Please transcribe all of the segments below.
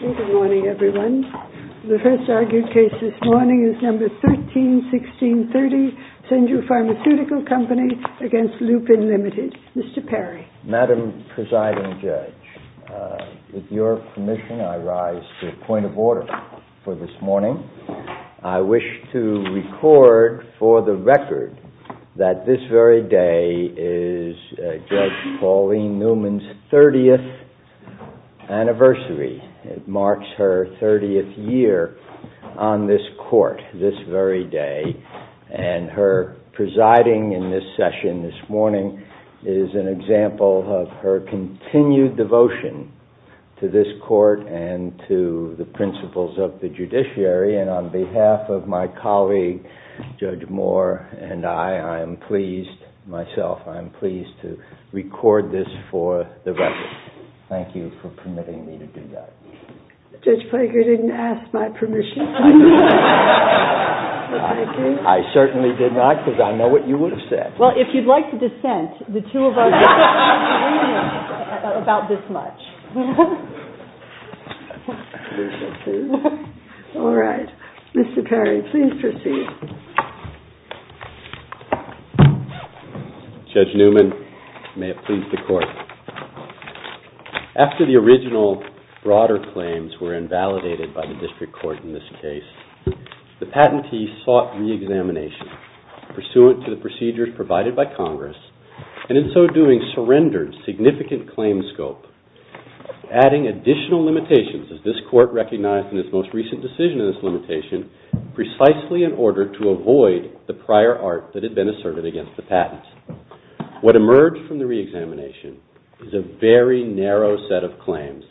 Good morning, everyone. The first argued case this morning is No. 131630, Senju Pharmaceutical Company v. Lupin Limited. Mr. Perry. Madam Presiding Judge, with your permission, I rise to the point of order for this morning. I wish to record for the record that this very day is Judge Pauline Newman's 30th anniversary. It marks her 30th year on this court this very day. And her presiding in this session this morning is an example of her continued devotion to this court and to the principles of the judiciary. And on behalf of my colleague, Judge Moore, and I, I am pleased myself, I am pleased to record this for the record. Thank you for permitting me to do that. Judge Flaker didn't ask my permission. I certainly did not, because I know what you would have said. Well, if you'd like to dissent, the two of us... about this much. All right. Mr. Perry, please proceed. Judge Newman, may it please the Court. After the original broader claims were invalidated by the district court in this case, the patentee sought re-examination pursuant to the procedures provided by Congress and in so doing surrendered significant claim scope, adding additional limitations, as this court recognized in its most recent decision in this limitation, precisely in order to avoid the prior art that had been asserted against the patents. What emerged from the re-examination is a very narrow set of claims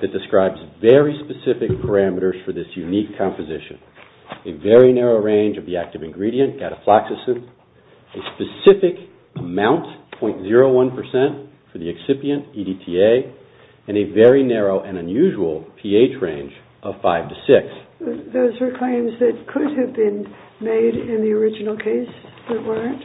that describes very specific parameters for this unique composition, a very narrow range of the active ingredient, gatafloxacin, a specific amount, 0.01%, for the excipient, EDTA, and a very narrow and unusual pH range of 5 to 6. Those were claims that could have been made in the original case that weren't?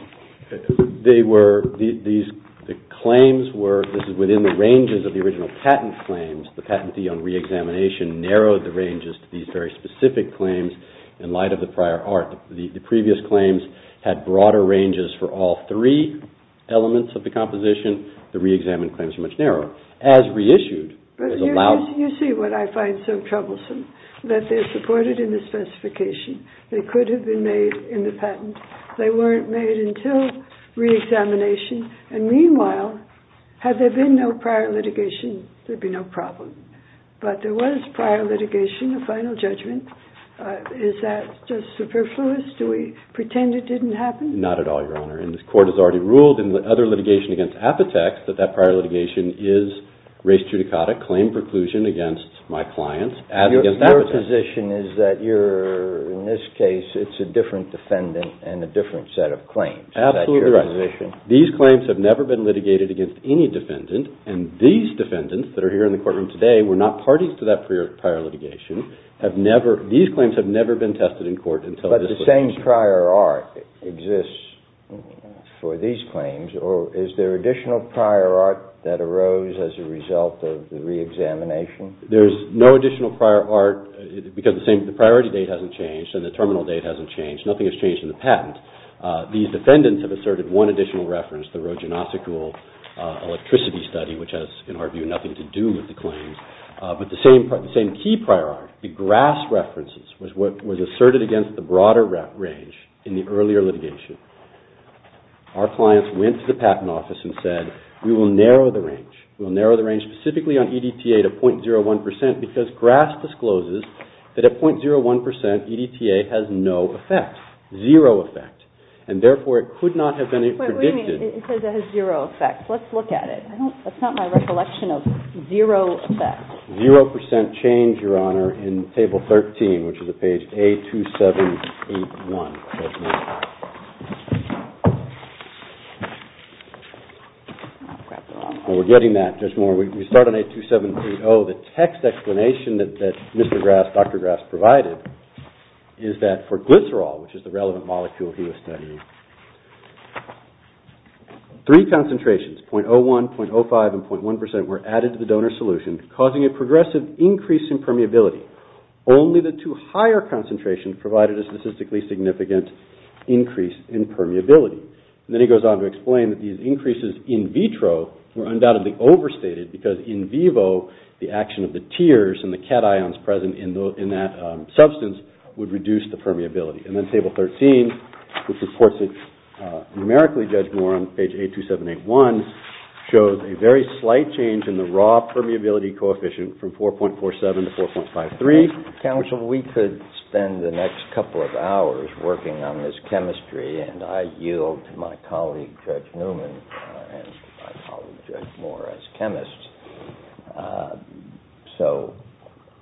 They were... The claims were... This is within the ranges of the original patent claims. The patentee on re-examination narrowed the ranges to these very specific claims in light of the prior art. The previous claims had broader ranges for all three elements of the composition. The re-examined claims are much narrower. As reissued... But you see what I find so troublesome, that they're supported in the specification. They could have been made in the patent. They weren't made until re-examination, and meanwhile, had there been no prior litigation, there'd be no problem. But there was prior litigation, a final judgment. Is that just superfluous? Do we pretend it didn't happen? Not at all, Your Honor. And the court has already ruled in the other litigation against Apotex that that prior litigation is res judicata, claim preclusion against my clients, as against Apotex. Your position is that you're, in this case, it's a different defendant and a different set of claims. Absolutely right. Is that your position? These claims have never been litigated against any defendant, and these defendants that are here in the courtroom today were not parties to that prior litigation. These claims have never been tested in court until this litigation. But the same prior art exists for these claims, or is there additional prior art that arose as a result of the re-examination? There's no additional prior art, because the priority date hasn't changed and the terminal date hasn't changed. Nothing has changed in the patent. These defendants have asserted one additional reference, the Rojanasicul electricity study, which has, in our view, nothing to do with the claims. But the same key prior art, the grass references, was asserted against the broader range in the earlier litigation. Our clients went to the patent office and said, we will narrow the range. We will narrow the range specifically on EDTA to .01%, because grass discloses that at .01%, EDTA has no effect, zero effect. And therefore, it could not have been predicted. Wait a minute. It says it has zero effect. Let's look at it. That's not my recollection of zero effect. Zero percent change, Your Honor, in Table 13, which is at page A2781. Thank you, Judge Moore. We're getting that, Judge Moore. We start on A2730. The text explanation that Dr. Grass provided is that for glycerol, which is the relevant molecule he was studying, three concentrations, .01%, .05%, and .1% were added to the donor solution, causing a progressive increase in permeability. Only the two higher concentrations provided a statistically significant increase in permeability. And then he goes on to explain that these increases in vitro were undoubtedly overstated, because in vivo, the action of the tiers and the cations present in that substance would reduce the permeability. And then Table 13, which is, of course, numerically, Judge Moore, on page A2781, shows a very slight change in the raw permeability coefficient from 4.47 to 4.53. Chief Counsel, we could spend the next couple of hours working on this chemistry, and I yield to my colleague, Judge Newman, and my colleague, Judge Moore, as chemists. So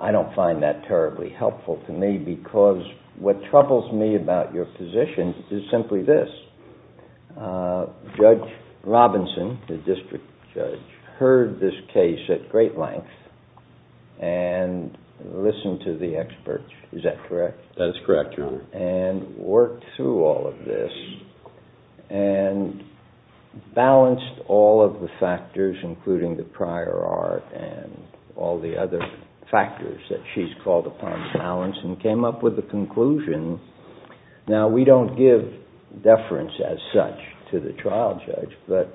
I don't find that terribly helpful to me, because what troubles me about your position is simply this. Judge Robinson, the district judge, heard this case at great length and listened to the experts. Is that correct? That is correct, Your Honor. And worked through all of this and balanced all of the factors, including the prior art and all the other factors that she's called upon to balance and came up with the conclusion. Now, we don't give deference as such to the trial judge, but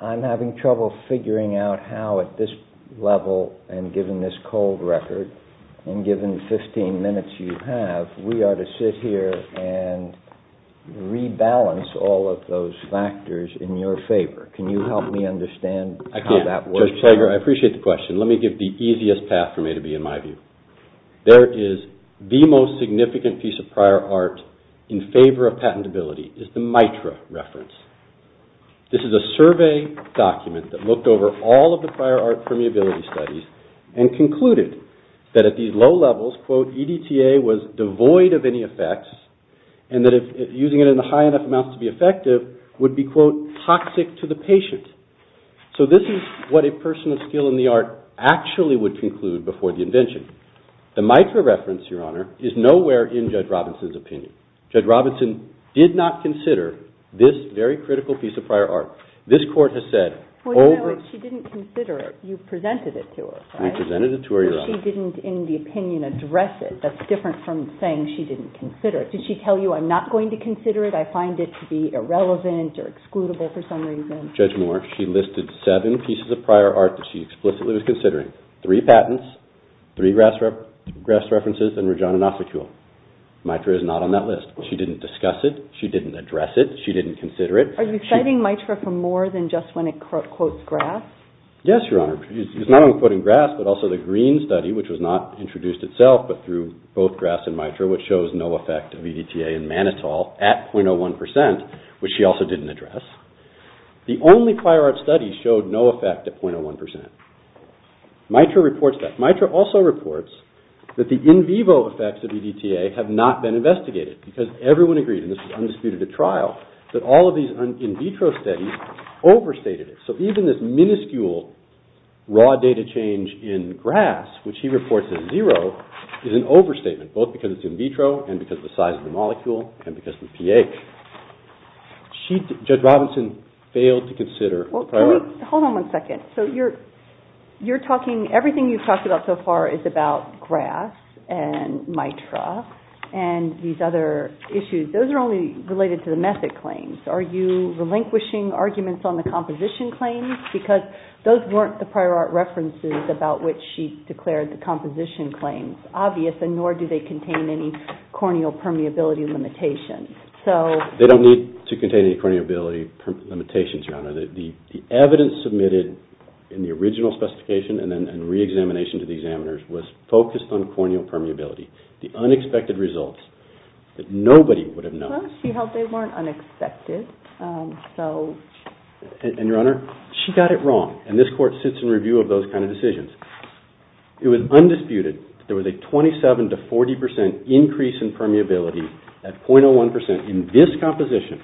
I'm having trouble figuring out how at this level and given this cold record and given the 15 minutes you have, we are to sit here and rebalance all of those factors in your favor. Can you help me understand how that works? I can't, Judge Fager. I appreciate the question. Let me give the easiest path for me to be in my view. There is the most significant piece of prior art in favor of patentability is the MITRA reference. This is a survey document that looked over all of the prior art permeability studies and concluded that at these low levels, quote, EDTA was devoid of any effects and that using it in high enough amounts to be effective would be, quote, toxic to the patient. So this is what a person of skill in the art actually would conclude before the invention. The MITRA reference, Your Honor, is nowhere in Judge Robinson's opinion. Judge Robinson did not consider this very critical piece of prior art. This court has said... Well, you know what? She didn't consider it. You presented it to her, right? We presented it to her, Your Honor. But she didn't, in the opinion, address it. That's different from saying she didn't consider it. Did she tell you, I'm not going to consider it, I find it to be irrelevant or excludable for some reason? Judge Moore, she listed seven pieces of prior art that she explicitly was considering, three patents, three grass references, and Regina Nasekul. MITRA is not on that list. She didn't discuss it. She didn't address it. She didn't consider it. Are you citing MITRA for more than just when it quotes grass? Yes, Your Honor. She's not only quoting grass, but also the green study, which was not introduced itself, but through both grass and MITRA, which shows no effect of EDTA in mannitol at 0.01%, which she also didn't address. The only prior art study showed no effect at 0.01%. MITRA reports that. MITRA also reports that the in vivo effects of EDTA have not been investigated, because everyone agreed, and this was undisputed at trial, that all of these in vitro studies overstated it. So even this minuscule raw data change in grass, which he reports as zero, is an overstatement, both because it's in vitro and because of the size of the molecule and because of the pH. Judge Robinson failed to consider prior art. Hold on one second. So you're talking, everything you've talked about so far is about grass and MITRA and these other issues. Those are only related to the method claims. Are you relinquishing arguments on the composition claims? Because those weren't the prior art references about which she declared the composition claims obvious, and nor do they contain any corneal permeability limitations. They don't need to contain any corneal permeability limitations, Your Honor. The evidence submitted in the original specification and reexamination to the examiners was focused on corneal permeability. The unexpected results that nobody would have known. Well, she held they weren't unexpected. And, Your Honor, she got it wrong, and this Court sits in review of those kind of decisions. It was undisputed that there was a 27 to 40 percent increase in permeability at .01 percent in this composition.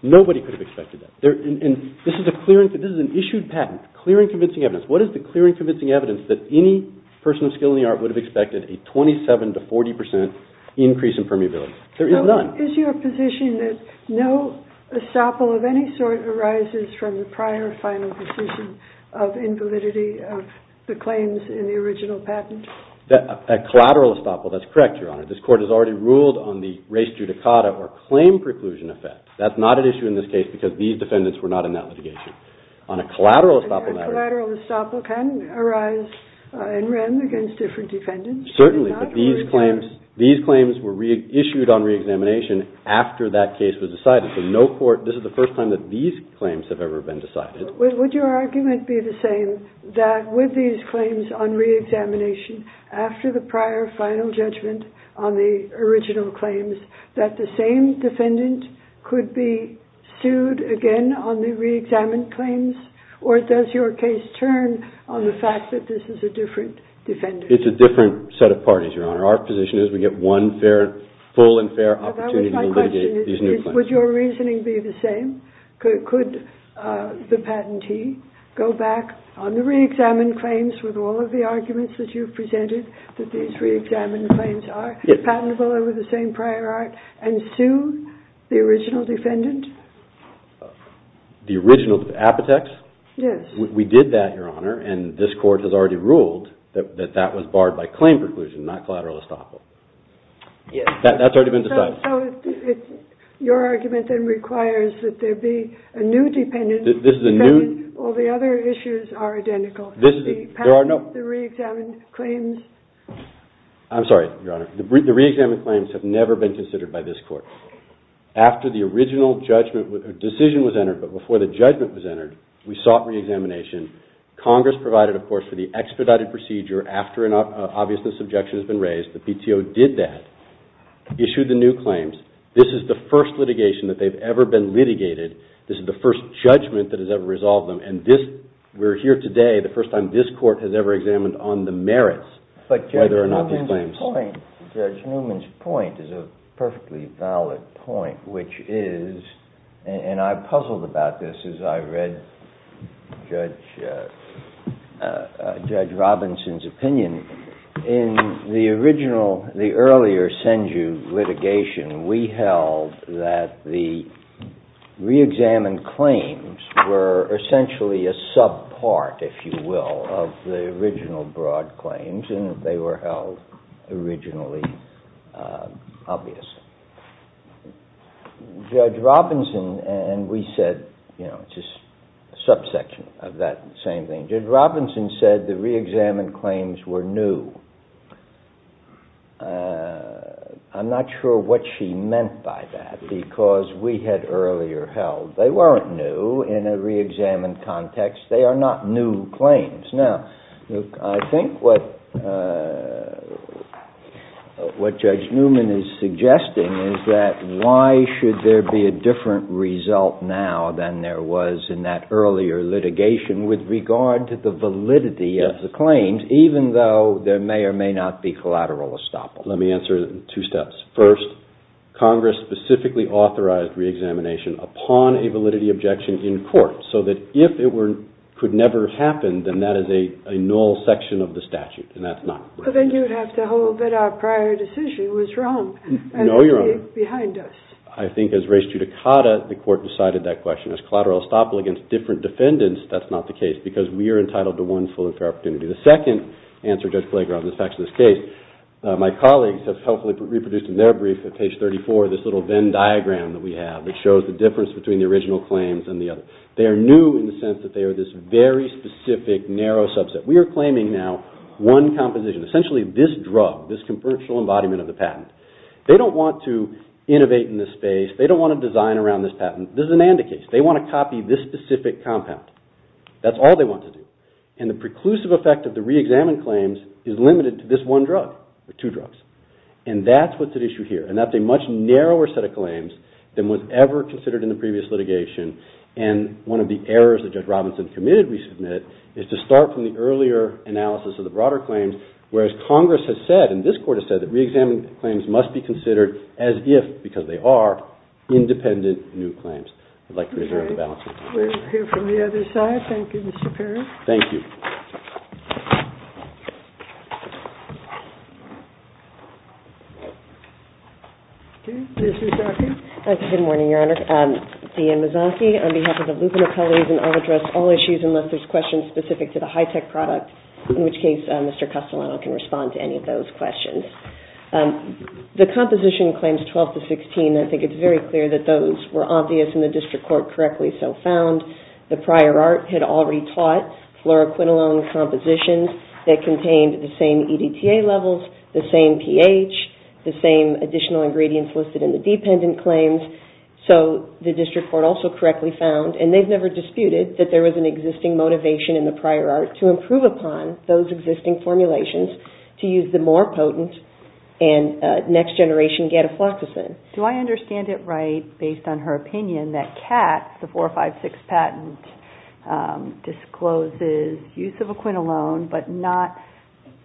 Nobody could have expected that. And this is an issued patent, clear and convincing evidence. What is the clear and convincing evidence that any person of skill in the art would have expected a 27 to 40 percent increase in permeability? There is none. Is your position that no estoppel of any sort arises from the prior final decision of invalidity of the claims in the original patent? A collateral estoppel, that's correct, Your Honor. This Court has already ruled on the res judicata or claim preclusion effect. That's not at issue in this case because these defendants were not in that litigation. On a collateral estoppel matter... Certainly, but these claims were issued on reexamination after that case was decided. So this is the first time that these claims have ever been decided. Would your argument be the same, that with these claims on reexamination, after the prior final judgment on the original claims, that the same defendant could be sued again on the reexamined claims? Or does your case turn on the fact that this is a different defendant? It's a different set of parties, Your Honor. Our position is we get one full and fair opportunity to litigate these new claims. But that was my question. Would your reasoning be the same? Could the patentee go back on the reexamined claims with all of the arguments that you've presented, that these reexamined claims are patentable over the same prior art, and sue the original defendant? The original defendant? Apotex? Yes. We did that, Your Honor, and this Court has already ruled that that was barred by claim preclusion, not collateral estoppel. That's already been decided. So your argument then requires that there be a new defendant because all the other issues are identical. The patent, the reexamined claims... I'm sorry, Your Honor. The reexamined claims have never been considered by this Court. After the original decision was entered, but before the judgment was entered, we sought reexamination. Congress provided, of course, for the extradited procedure after an obviousness objection has been raised. The PTO did that, issued the new claims. This is the first litigation that they've ever been litigated. This is the first judgment that has ever resolved them, and we're here today, the first time this Court has ever examined on the merits whether or not these claims... But Judge Newman's point is a perfectly valid point, and I puzzled about this as I read Judge Robinson's opinion. In the earlier Senju litigation, we held that the reexamined claims were essentially a subpart, if you will, of the original broad claims, and they were held originally obvious. Judge Robinson and we said, you know, it's just a subsection of that same thing. Judge Robinson said the reexamined claims were new. I'm not sure what she meant by that because we had earlier held they weren't new in a reexamined context. They are not new claims. Now, I think what Judge Newman is suggesting is that why should there be a different result now than there was in that earlier litigation with regard to the validity of the claims, even though there may or may not be collateral estoppel. Let me answer it in two steps. First, Congress specifically authorized reexamination upon a validity objection in court, so that if it could never happen, then that is a null section of the statute, and that's not correct. But then you would have to hold that our prior decision was wrong. No, you're wrong. And it would be behind us. I think as race judicata, the court decided that question. As collateral estoppel against different defendants, that's not the case because we are entitled to one full and fair opportunity. The second answer, Judge Klager, on the facts of this case, my colleagues have helpfully reproduced in their brief at page 34 this little Venn diagram that we have that shows the difference between the original claims and the other. They are new in the sense that they are this very specific, narrow subset. We are claiming now one composition, essentially this drug, this commercial embodiment of the patent. They don't want to innovate in this space. They don't want to design around this patent. This is an ANDA case. They want to copy this specific compound. That's all they want to do. And the preclusive effect of the reexamined claims is limited to this one drug, or two drugs. And that's what's at issue here, and that's a much narrower set of claims than was ever considered in the previous litigation, and one of the errors that Judge Robinson committed, we submit, is to start from the earlier analysis of the broader claims, whereas Congress has said, and this Court has said, that reexamined claims must be considered as if, because they are, independent new claims. I'd like to reserve the balance of my time. We'll hear from the other side. Thank you, Mr. Perry. Thank you. Okay, Ms. Zarkin. Good morning, Your Honor. Deanne Mazzocchi, on behalf of the Lupin Appellees, and I'll address all issues unless there's questions specific to the high-tech product, in which case Mr. Castellano can respond to any of those questions. The composition claims 12 to 16, I think it's very clear that those were obvious, and the district court correctly so found. The prior art had already taught fluoroquinolone compositions that contained the same EDTA levels, the same pH, the same additional ingredients listed in the dependent claims. So the district court also correctly found, and they've never disputed, that there was an existing motivation in the prior art to improve upon those existing formulations to use the more potent and next-generation gadofloxacin. Do I understand it right, based on her opinion, that CAT, the 456 patent, discloses use of a quinolone, but not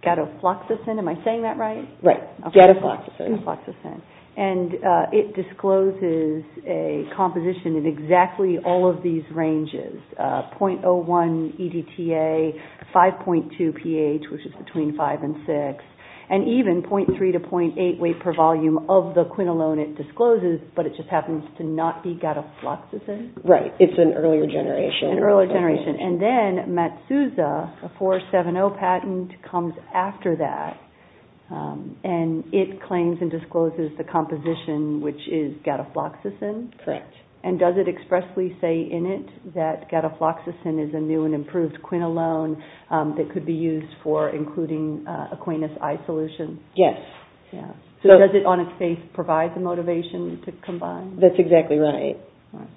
gadofloxacin. Am I saying that right? Right, gadofloxacin. And it discloses a composition in exactly all of these ranges, 0.01 EDTA, 5.2 pH, which is between 5 and 6, and even 0.3 to 0.8 weight per volume of the quinolone it discloses, but it just happens to not be gadofloxacin? Right, it's an earlier generation. An earlier generation. And then Matsuza, a 470 patent, comes after that, and it claims and discloses the composition, which is gadofloxacin? Correct. And does it expressly say in it that gadofloxacin is a new and improved quinolone that could be used for including a quinus I solution? Yes. So does it, on its face, provide the motivation to combine? That's exactly right.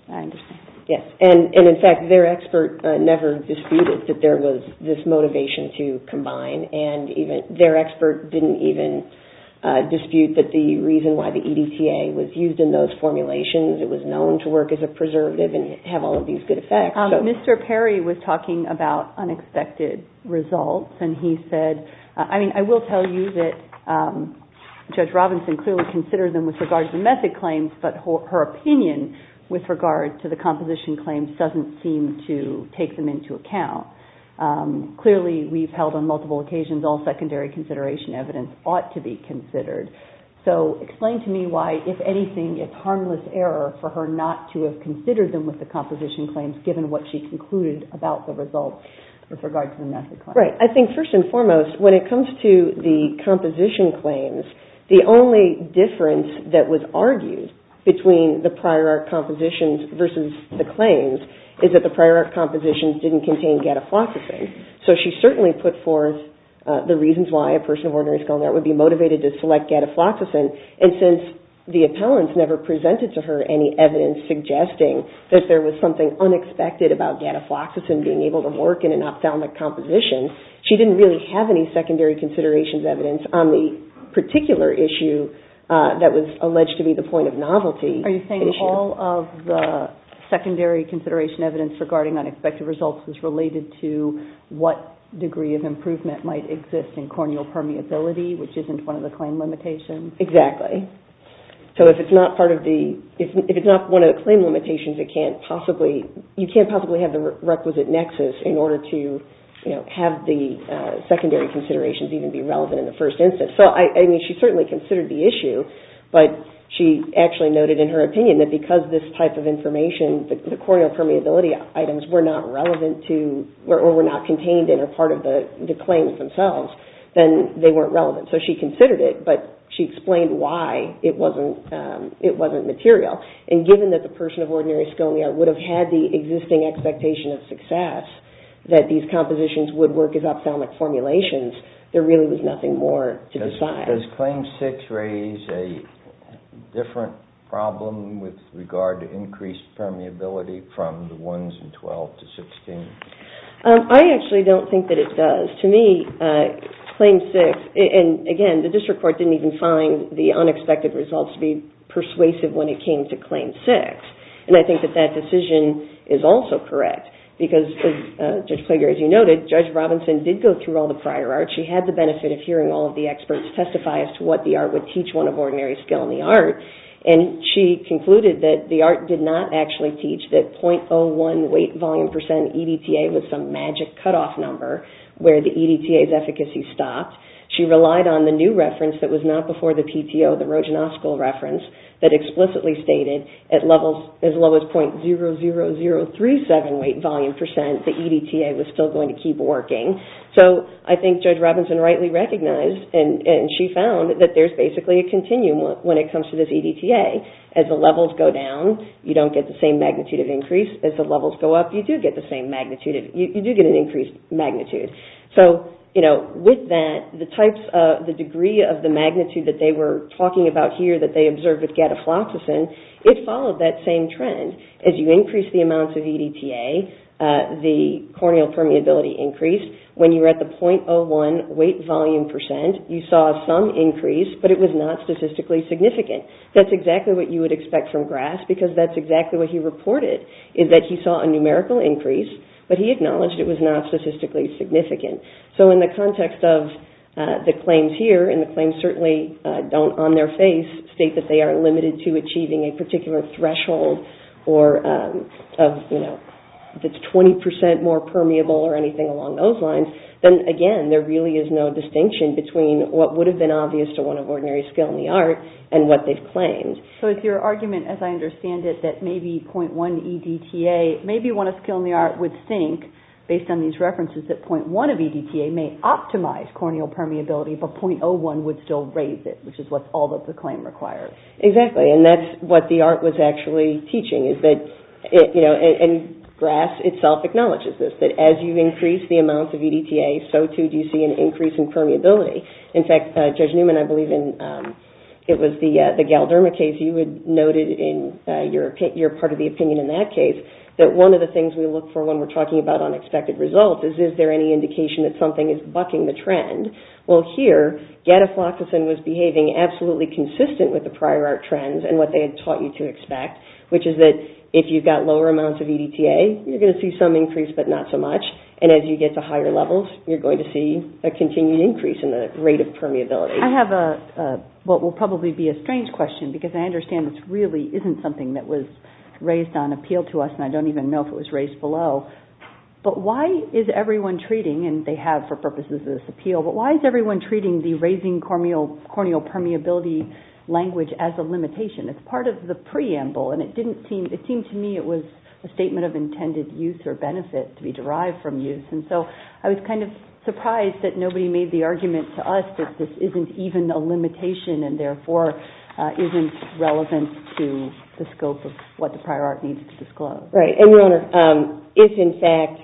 I understand. Yes, and in fact, their expert never disputed that there was this motivation to combine, and their expert didn't even dispute that the reason why the EDTA was used in those formulations, it was known to work as a preservative and have all of these good effects. Mr. Perry was talking about unexpected results, and he said, I mean, I will tell you that Judge Robinson clearly considered them with regard to the method claims, but her opinion with regard to the composition claims doesn't seem to take them into account. Clearly, we've held on multiple occasions all secondary consideration evidence ought to be considered. So explain to me why, if anything, it's harmless error for her not to have considered them with the composition claims, given what she concluded about the results with regard to the method claims. Right. I think, first and foremost, when it comes to the composition claims, the only difference that was argued between the prior art compositions versus the claims is that the prior art compositions didn't contain gadafloxacin. So she certainly put forth the reasons why a person of ordinary skill in art would be motivated to select gadafloxacin, and since the appellants never presented to her any evidence suggesting that there was something unexpected about gadafloxacin being able to work in an ophthalmic composition, she didn't really have any secondary considerations evidence on the particular issue that was alleged to be the point of novelty issue. Are you saying all of the secondary consideration evidence regarding unexpected results is related to what degree of improvement might exist in corneal permeability, which isn't one of the claim limitations? Exactly. So if it's not one of the claim limitations, you can't possibly have the requisite nexus in order to have the secondary considerations even be relevant in the first instance. So she certainly considered the issue, but she actually noted in her opinion that because this type of information, the corneal permeability items were not relevant to, or were not contained in or part of the claims themselves, then they weren't relevant. So she considered it, but she explained why it wasn't material. And given that the person of ordinary skill in the art would have had the existing expectation of success that these compositions would work as ophthalmic formulations, there really was nothing more to decide. Does Claim 6 raise a different problem with regard to increased permeability from the ones in 12 to 16? I actually don't think that it does. To me, Claim 6, and again, the district court didn't even find the unexpected results to be persuasive when it came to Claim 6. And I think that that decision is also correct because Judge Plager, as you noted, Judge Robinson did go through all the prior art. She had the benefit of hearing all of the experts testify as to what the art would teach one of ordinary skill in the art. And she concluded that the art did not actually teach that 0.01 weight volume percent EDTA was some magic cutoff number where the EDTA's efficacy stopped. She relied on the new reference that was not before the PTO, the Roginoskul reference, that explicitly stated as low as 0.00037 weight volume percent, the EDTA was still going to keep working. So I think Judge Robinson rightly recognized, and she found, that there's basically a continuum when it comes to this EDTA. As the levels go down, you don't get the same magnitude of increase. As the levels go up, you do get the same magnitude. You do get an increased magnitude. So, you know, with that, the degree of the magnitude that they were talking about here that they observed with gadafloxacin, it followed that same trend. As you increase the amounts of EDTA, the corneal permeability increased. When you were at the 0.01 weight volume percent, you saw some increase, but it was not statistically significant. That's exactly what you would expect from Grass, because that's exactly what he reported, is that he saw a numerical increase, but he acknowledged it was not statistically significant. So in the context of the claims here, and the claims certainly don't, on their face, state that they are limited to achieving a particular threshold, or, you know, if it's 20% more permeable or anything along those lines, then, again, there really is no distinction between what would have been obvious to one of ordinary skill in the art and what they've claimed. So it's your argument, as I understand it, that maybe 0.1 EDTA, maybe one of skill in the art would think, based on these references, that 0.1 of EDTA may optimize corneal permeability, but 0.01 would still raise it, which is what all of the claim requires. Exactly, and that's what the art was actually teaching, is that, you know, and Grass itself acknowledges this, that as you increase the amounts of EDTA, so too do you see an increase in permeability. In fact, Judge Newman, I believe in, it was the Galderma case, you had noted in your part of the opinion in that case that one of the things we look for when we're talking about unexpected results is, is there any indication that something is bucking the trend? Well, here, gadifloxacin was behaving absolutely consistent with the prior art trends and what they had taught you to expect, which is that if you've got lower amounts of EDTA, you're going to see some increase, but not so much, and as you get to higher levels, you're going to see a continued increase in the rate of permeability. I have a, what will probably be a strange question, because I understand this really isn't something that was raised on appeal to us, and I don't even know if it was raised below, but why is everyone treating, and they have for purposes of this appeal, but why is everyone treating the raising corneal permeability language as a limitation? It's part of the preamble, and it didn't seem, it seemed to me it was a statement of intended use or benefit to be derived from use, and so I was kind of surprised that nobody made the argument to us that this isn't even a limitation and therefore isn't relevant to the scope of what the prior art needs to disclose. Right, and your Honor, if in fact,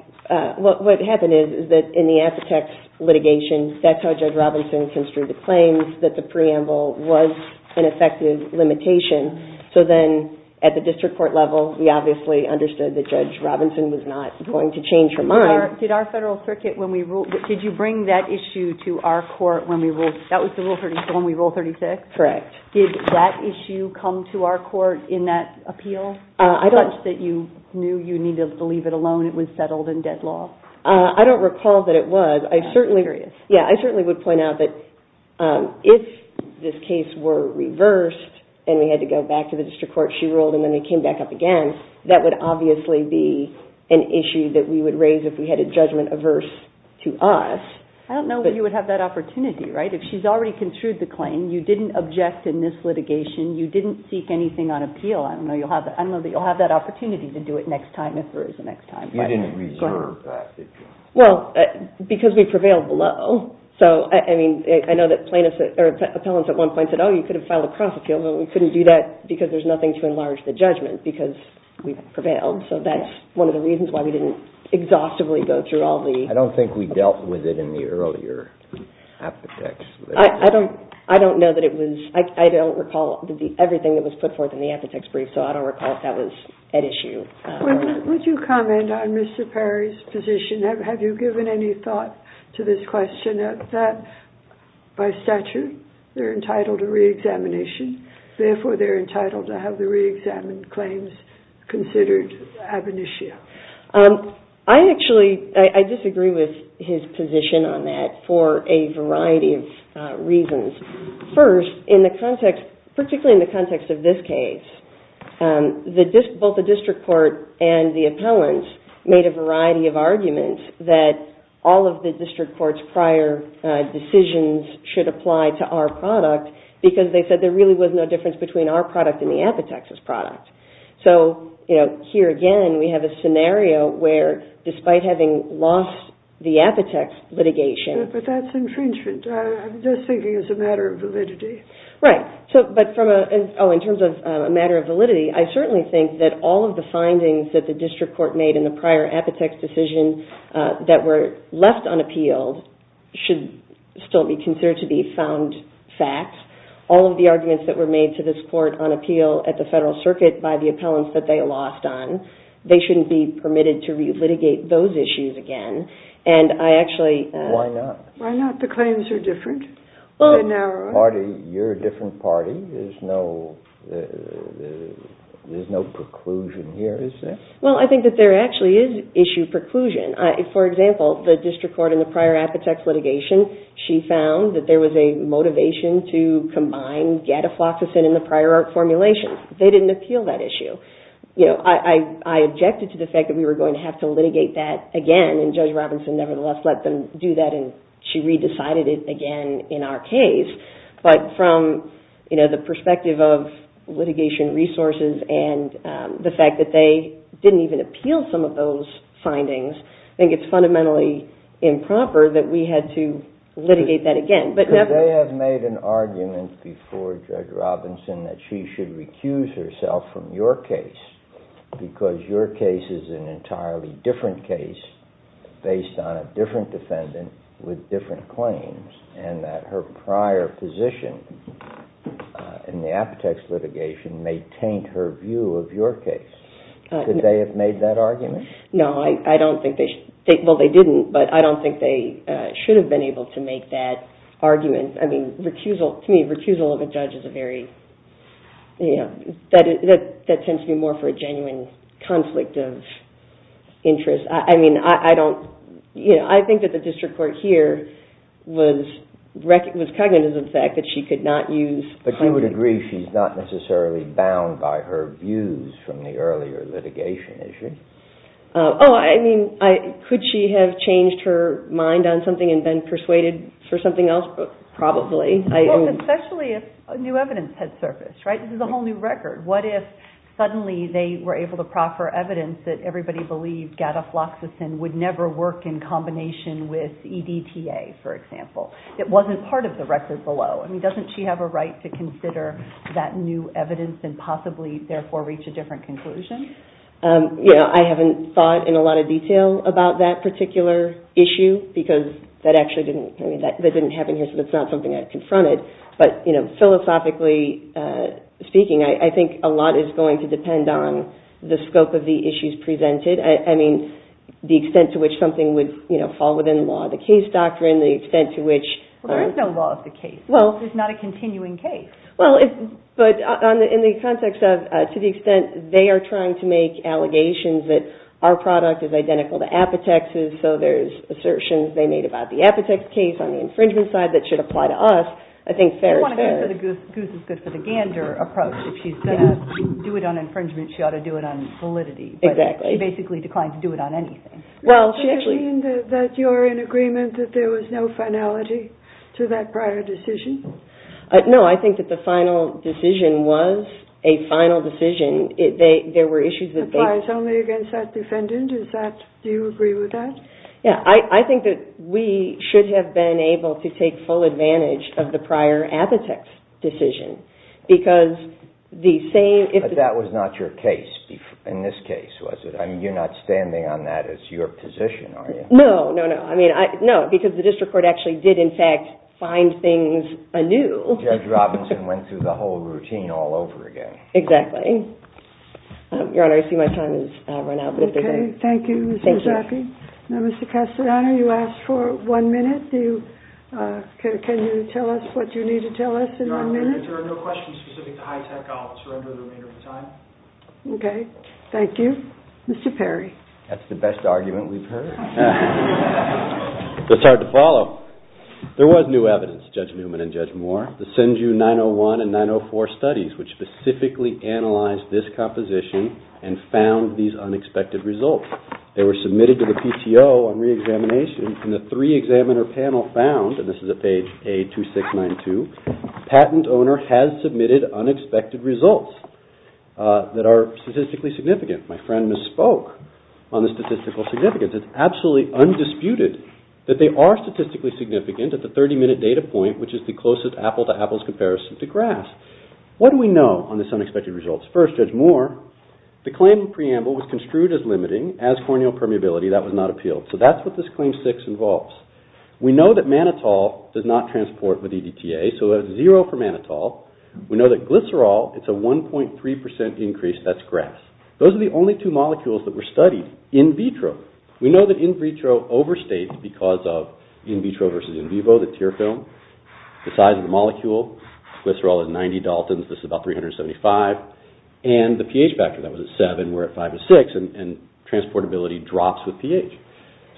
what happened is that in the Apotex litigation, that's how Judge Robinson construed the claims, that the preamble was an effective limitation, so then at the district court level, we obviously understood that Judge Robinson was not going to change her mind. Did our federal circuit, did you bring that issue to our court when we ruled, that was when we ruled 36? Correct. Did that issue come to our court in that appeal? I don't. Such that you knew you needed to leave it alone, it was settled in dead law? I don't recall that it was. I'm curious. Yeah, I certainly would point out that if this case were reversed and we had to go back to the district court, where she ruled and then they came back up again, that would obviously be an issue that we would raise if we had a judgment averse to us. I don't know that you would have that opportunity, right? If she's already construed the claim, you didn't object in this litigation, you didn't seek anything on appeal, I don't know that you'll have that opportunity to do it next time if there is a next time. You didn't reserve that issue. Well, because we prevailed below. So, I mean, I know that plaintiffs, or appellants at one point said, oh, you could have filed a cross appeal, but we couldn't do that because there's nothing to enlarge the judgment because we prevailed. So that's one of the reasons why we didn't exhaustively go through all the... I don't think we dealt with it in the earlier appetects. I don't know that it was... I don't recall everything that was put forth in the appetects brief, so I don't recall if that was at issue. Would you comment on Mr. Perry's position? Have you given any thought to this question that by statute they're entitled to reexamination, therefore they're entitled to have the reexamined claims considered ab initio? I actually... I disagree with his position on that for a variety of reasons. First, in the context... particularly in the context of this case, both the district court and the appellants made a variety of arguments that all of the district court's prior decisions should apply to our product because they said there really was no difference between our product and the appetects' product. So here again we have a scenario where despite having lost the appetects litigation... But that's infringement. I'm just thinking it's a matter of validity. Right. But from a... Oh, in terms of a matter of validity, I certainly think that all of the findings that the district court made in the prior appetects' decision that were left unappealed should still be considered to be found facts. All of the arguments that were made to this court on appeal at the Federal Circuit by the appellants that they lost on, they shouldn't be permitted to re-litigate those issues again. And I actually... Why not? Why not? The claims are different. They're narrower. You're a different party. There's no... There's no preclusion here, is there? Well, I think that there actually is issue preclusion. For example, the district court in the prior appetects litigation, she found that there was a motivation to combine gadafloxacin in the prior art formulation. They didn't appeal that issue. I objected to the fact that we were going to have to litigate that again, and Judge Robinson nevertheless let them do that and she re-decided it again in our case. But from the perspective of litigation resources and the fact that they didn't even appeal some of those findings, I think it's fundamentally improper that we had to litigate that again. But never... They have made an argument before Judge Robinson that she should recuse herself from your case because your case is an entirely different case based on a different defendant with different claims and that her prior position in the appetects litigation may taint her view of your case. Could they have made that argument? No, I don't think they... Well, they didn't, but I don't think they should have been able to make that argument. I mean, recusal... To me, recusal of a judge is a very... That tends to be more for a genuine conflict of interest. I mean, I don't... I think that the district court here was cognizant of the fact that she could not use... But you would agree she's not necessarily bound by her views from the earlier litigation, is she? Oh, I mean, could she have changed her mind on something and been persuaded for something else? Probably. Well, especially if new evidence had surfaced, right? This is a whole new record. What if suddenly they were able to proffer evidence that everybody believed gadafloxacin would never work in combination with EDTA, for example? It wasn't part of the record below. I mean, doesn't she have a right to consider that new evidence and possibly, therefore, reach a different conclusion? You know, I haven't thought in a lot of detail about that particular issue because that actually didn't... I mean, that didn't happen here, so that's not something I'd confront it. But, you know, philosophically speaking, I think a lot is going to depend on the scope of the issues presented. I mean, the extent to which something would, you know, fall within the law of the case doctrine, the extent to which... Well, there is no law of the case. Well... It's not a continuing case. Well, but in the context of to the extent they are trying to make allegations that our product is identical to Apotex's, so there's assertions they made about the Apotex case on the infringement side that should apply to us, I think fair is fair. You don't want to go for the goose is good for the gander approach. If she's going to do it on infringement, she ought to do it on validity. Exactly. But she basically declined to do it on anything. Well, she actually... Does that mean that you're in agreement that there was no finality to that prior decision? No. I think that the final decision was a final decision. There were issues that they... Applies only against that defendant. Is that... Do you agree with that? Yeah. I think that we should have been able to take full advantage of the prior Apotex decision because the same... But that was not your case in this case, was it? I mean, you're not standing on that as your position, are you? No, no, no. No, because the district court actually did, in fact, find things anew. Judge Robinson went through the whole routine all over again. Exactly. Your Honor, I see my time has run out. Okay. Thank you, Mr. Zaffi. Thank you. Now, Mr. Castadon, you asked for one minute. Can you tell us what you need to tell us in one minute? Your Honor, if there are no questions specific to HITECH, I'll surrender the remainder of the time. Okay. Thank you. Mr. Perry. That's the best argument we've heard. It's hard to follow. There was new evidence, Judge Newman and Judge Moore. The Senju 901 and 904 studies, which specifically analyzed this composition and found these unexpected results. They were submitted to the PTO on reexamination, and the three-examiner panel found, and this is at page A2692, patent owner has submitted unexpected results that are statistically significant. My friend misspoke on the statistical significance. It's absolutely undisputed that they are statistically significant at the 30-minute data point, which is the closest apple-to-apple's comparison to grass. What do we know on this unexpected results? First, Judge Moore, the claim preamble was construed as limiting. As corneal permeability, that was not appealed. So that's what this Claim 6 involves. We know that mannitol does not transport with EDTA, so it's zero for mannitol. We know that glycerol, it's a 1.3% increase. That's grass. Those are the only two molecules that were studied in vitro. We know that in vitro overstates because of in vitro versus in vivo, the tear film, the size of the molecule. Glycerol is 90 Daltons. This is about 375. And the pH factor, that was at 7. We're at 5 to 6, and transportability drops with pH.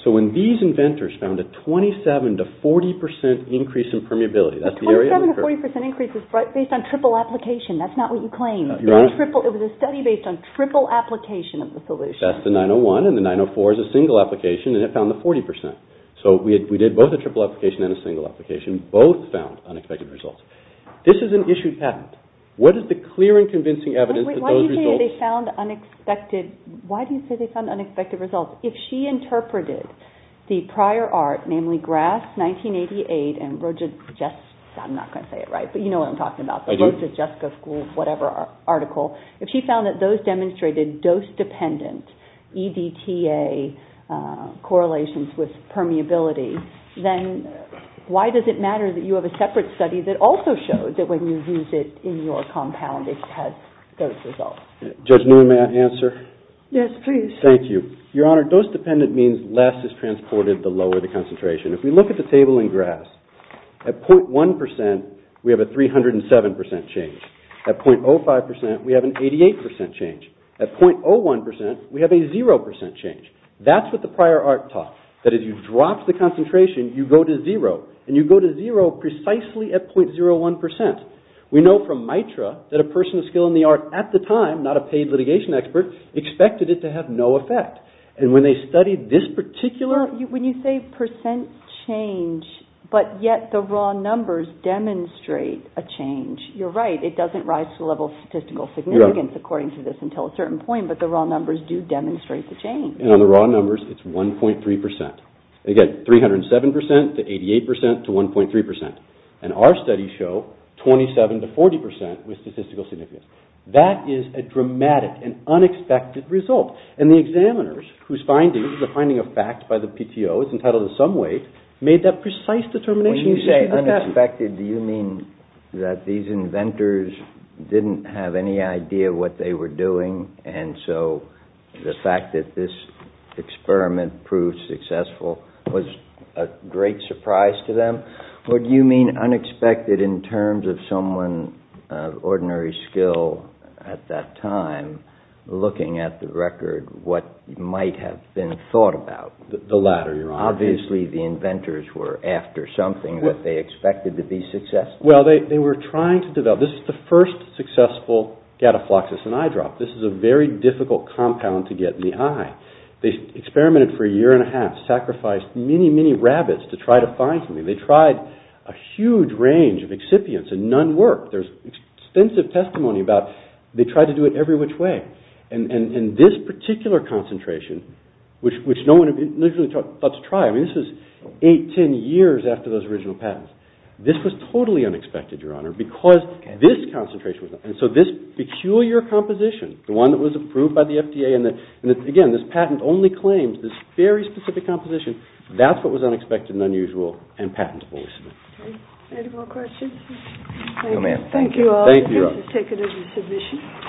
So when these inventors found a 27% to 40% increase in permeability, that's the area of the curve. A 27% to 40% increase is based on triple application. That's not what you claim. It was a study based on triple application of the solution. That's the 901, and the 904 is a single application, and it found the 40%. So we did both a triple application and a single application. Both found unexpected results. This is an issued patent. What is the clear and convincing evidence that those results... Wait, why do you say they found unexpected results? If she interpreted the prior art, namely Grass 1988, and Roja Jessica's, I'm not going to say it right, but you know what I'm talking about, the Roja Jessica School, whatever article. If she found that those demonstrated dose-dependent EDTA correlations with permeability, then why does it matter that you have a separate study that also showed that when you use it in your compound it has those results? Judge Newman, may I answer? Yes, please. Thank you. Your Honor, dose-dependent means less is transported the lower the concentration. If we look at the table in Grass, at 0.1% we have a 307% change. At 0.05% we have an 88% change. At 0.01% we have a 0% change. That's what the prior art taught, that as you drop the concentration you go to zero, and you go to zero precisely at 0.01%. We know from MITRA that a person of skill in the art at the time, not a paid litigation expert, expected it to have no effect. And when they studied this particular... When you say percent change, but yet the raw numbers demonstrate a change, you're right, it doesn't rise to the level of statistical significance according to this until a certain point, but the raw numbers do demonstrate the change. And on the raw numbers it's 1.3%. Again, 307% to 88% to 1.3%. And our studies show 27% to 40% with statistical significance. That is a dramatic and unexpected result. And the examiners, whose findings, the finding of fact by the PTO, is entitled to some weight, made that precise determination. When you say unexpected, do you mean that these inventors didn't have any idea what they were doing, and so the fact that this experiment proved successful was a great surprise to them? Or do you mean unexpected in terms of someone of ordinary skill at that time looking at the record what might have been thought about? The latter, Your Honor. Obviously the inventors were after something that they expected to be successful. Well, they were trying to develop. This is the first successful gatafloxus in eyedrop. This is a very difficult compound to get in the eye. They experimented for a year and a half, sacrificed many, many rabbits to try to find something. They tried a huge range of excipients and none worked. There's extensive testimony about they tried to do it every which way. And this particular concentration, which no one had literally thought to try, I mean this was eight, ten years after those original patents. This was totally unexpected, Your Honor, because this concentration was not. And so this peculiar composition, the one that was approved by the FDA, and again, this patent only claims this very specific composition, that's what was unexpected and unusual and patentable. Any more questions? Thank you all. This has taken as a submission.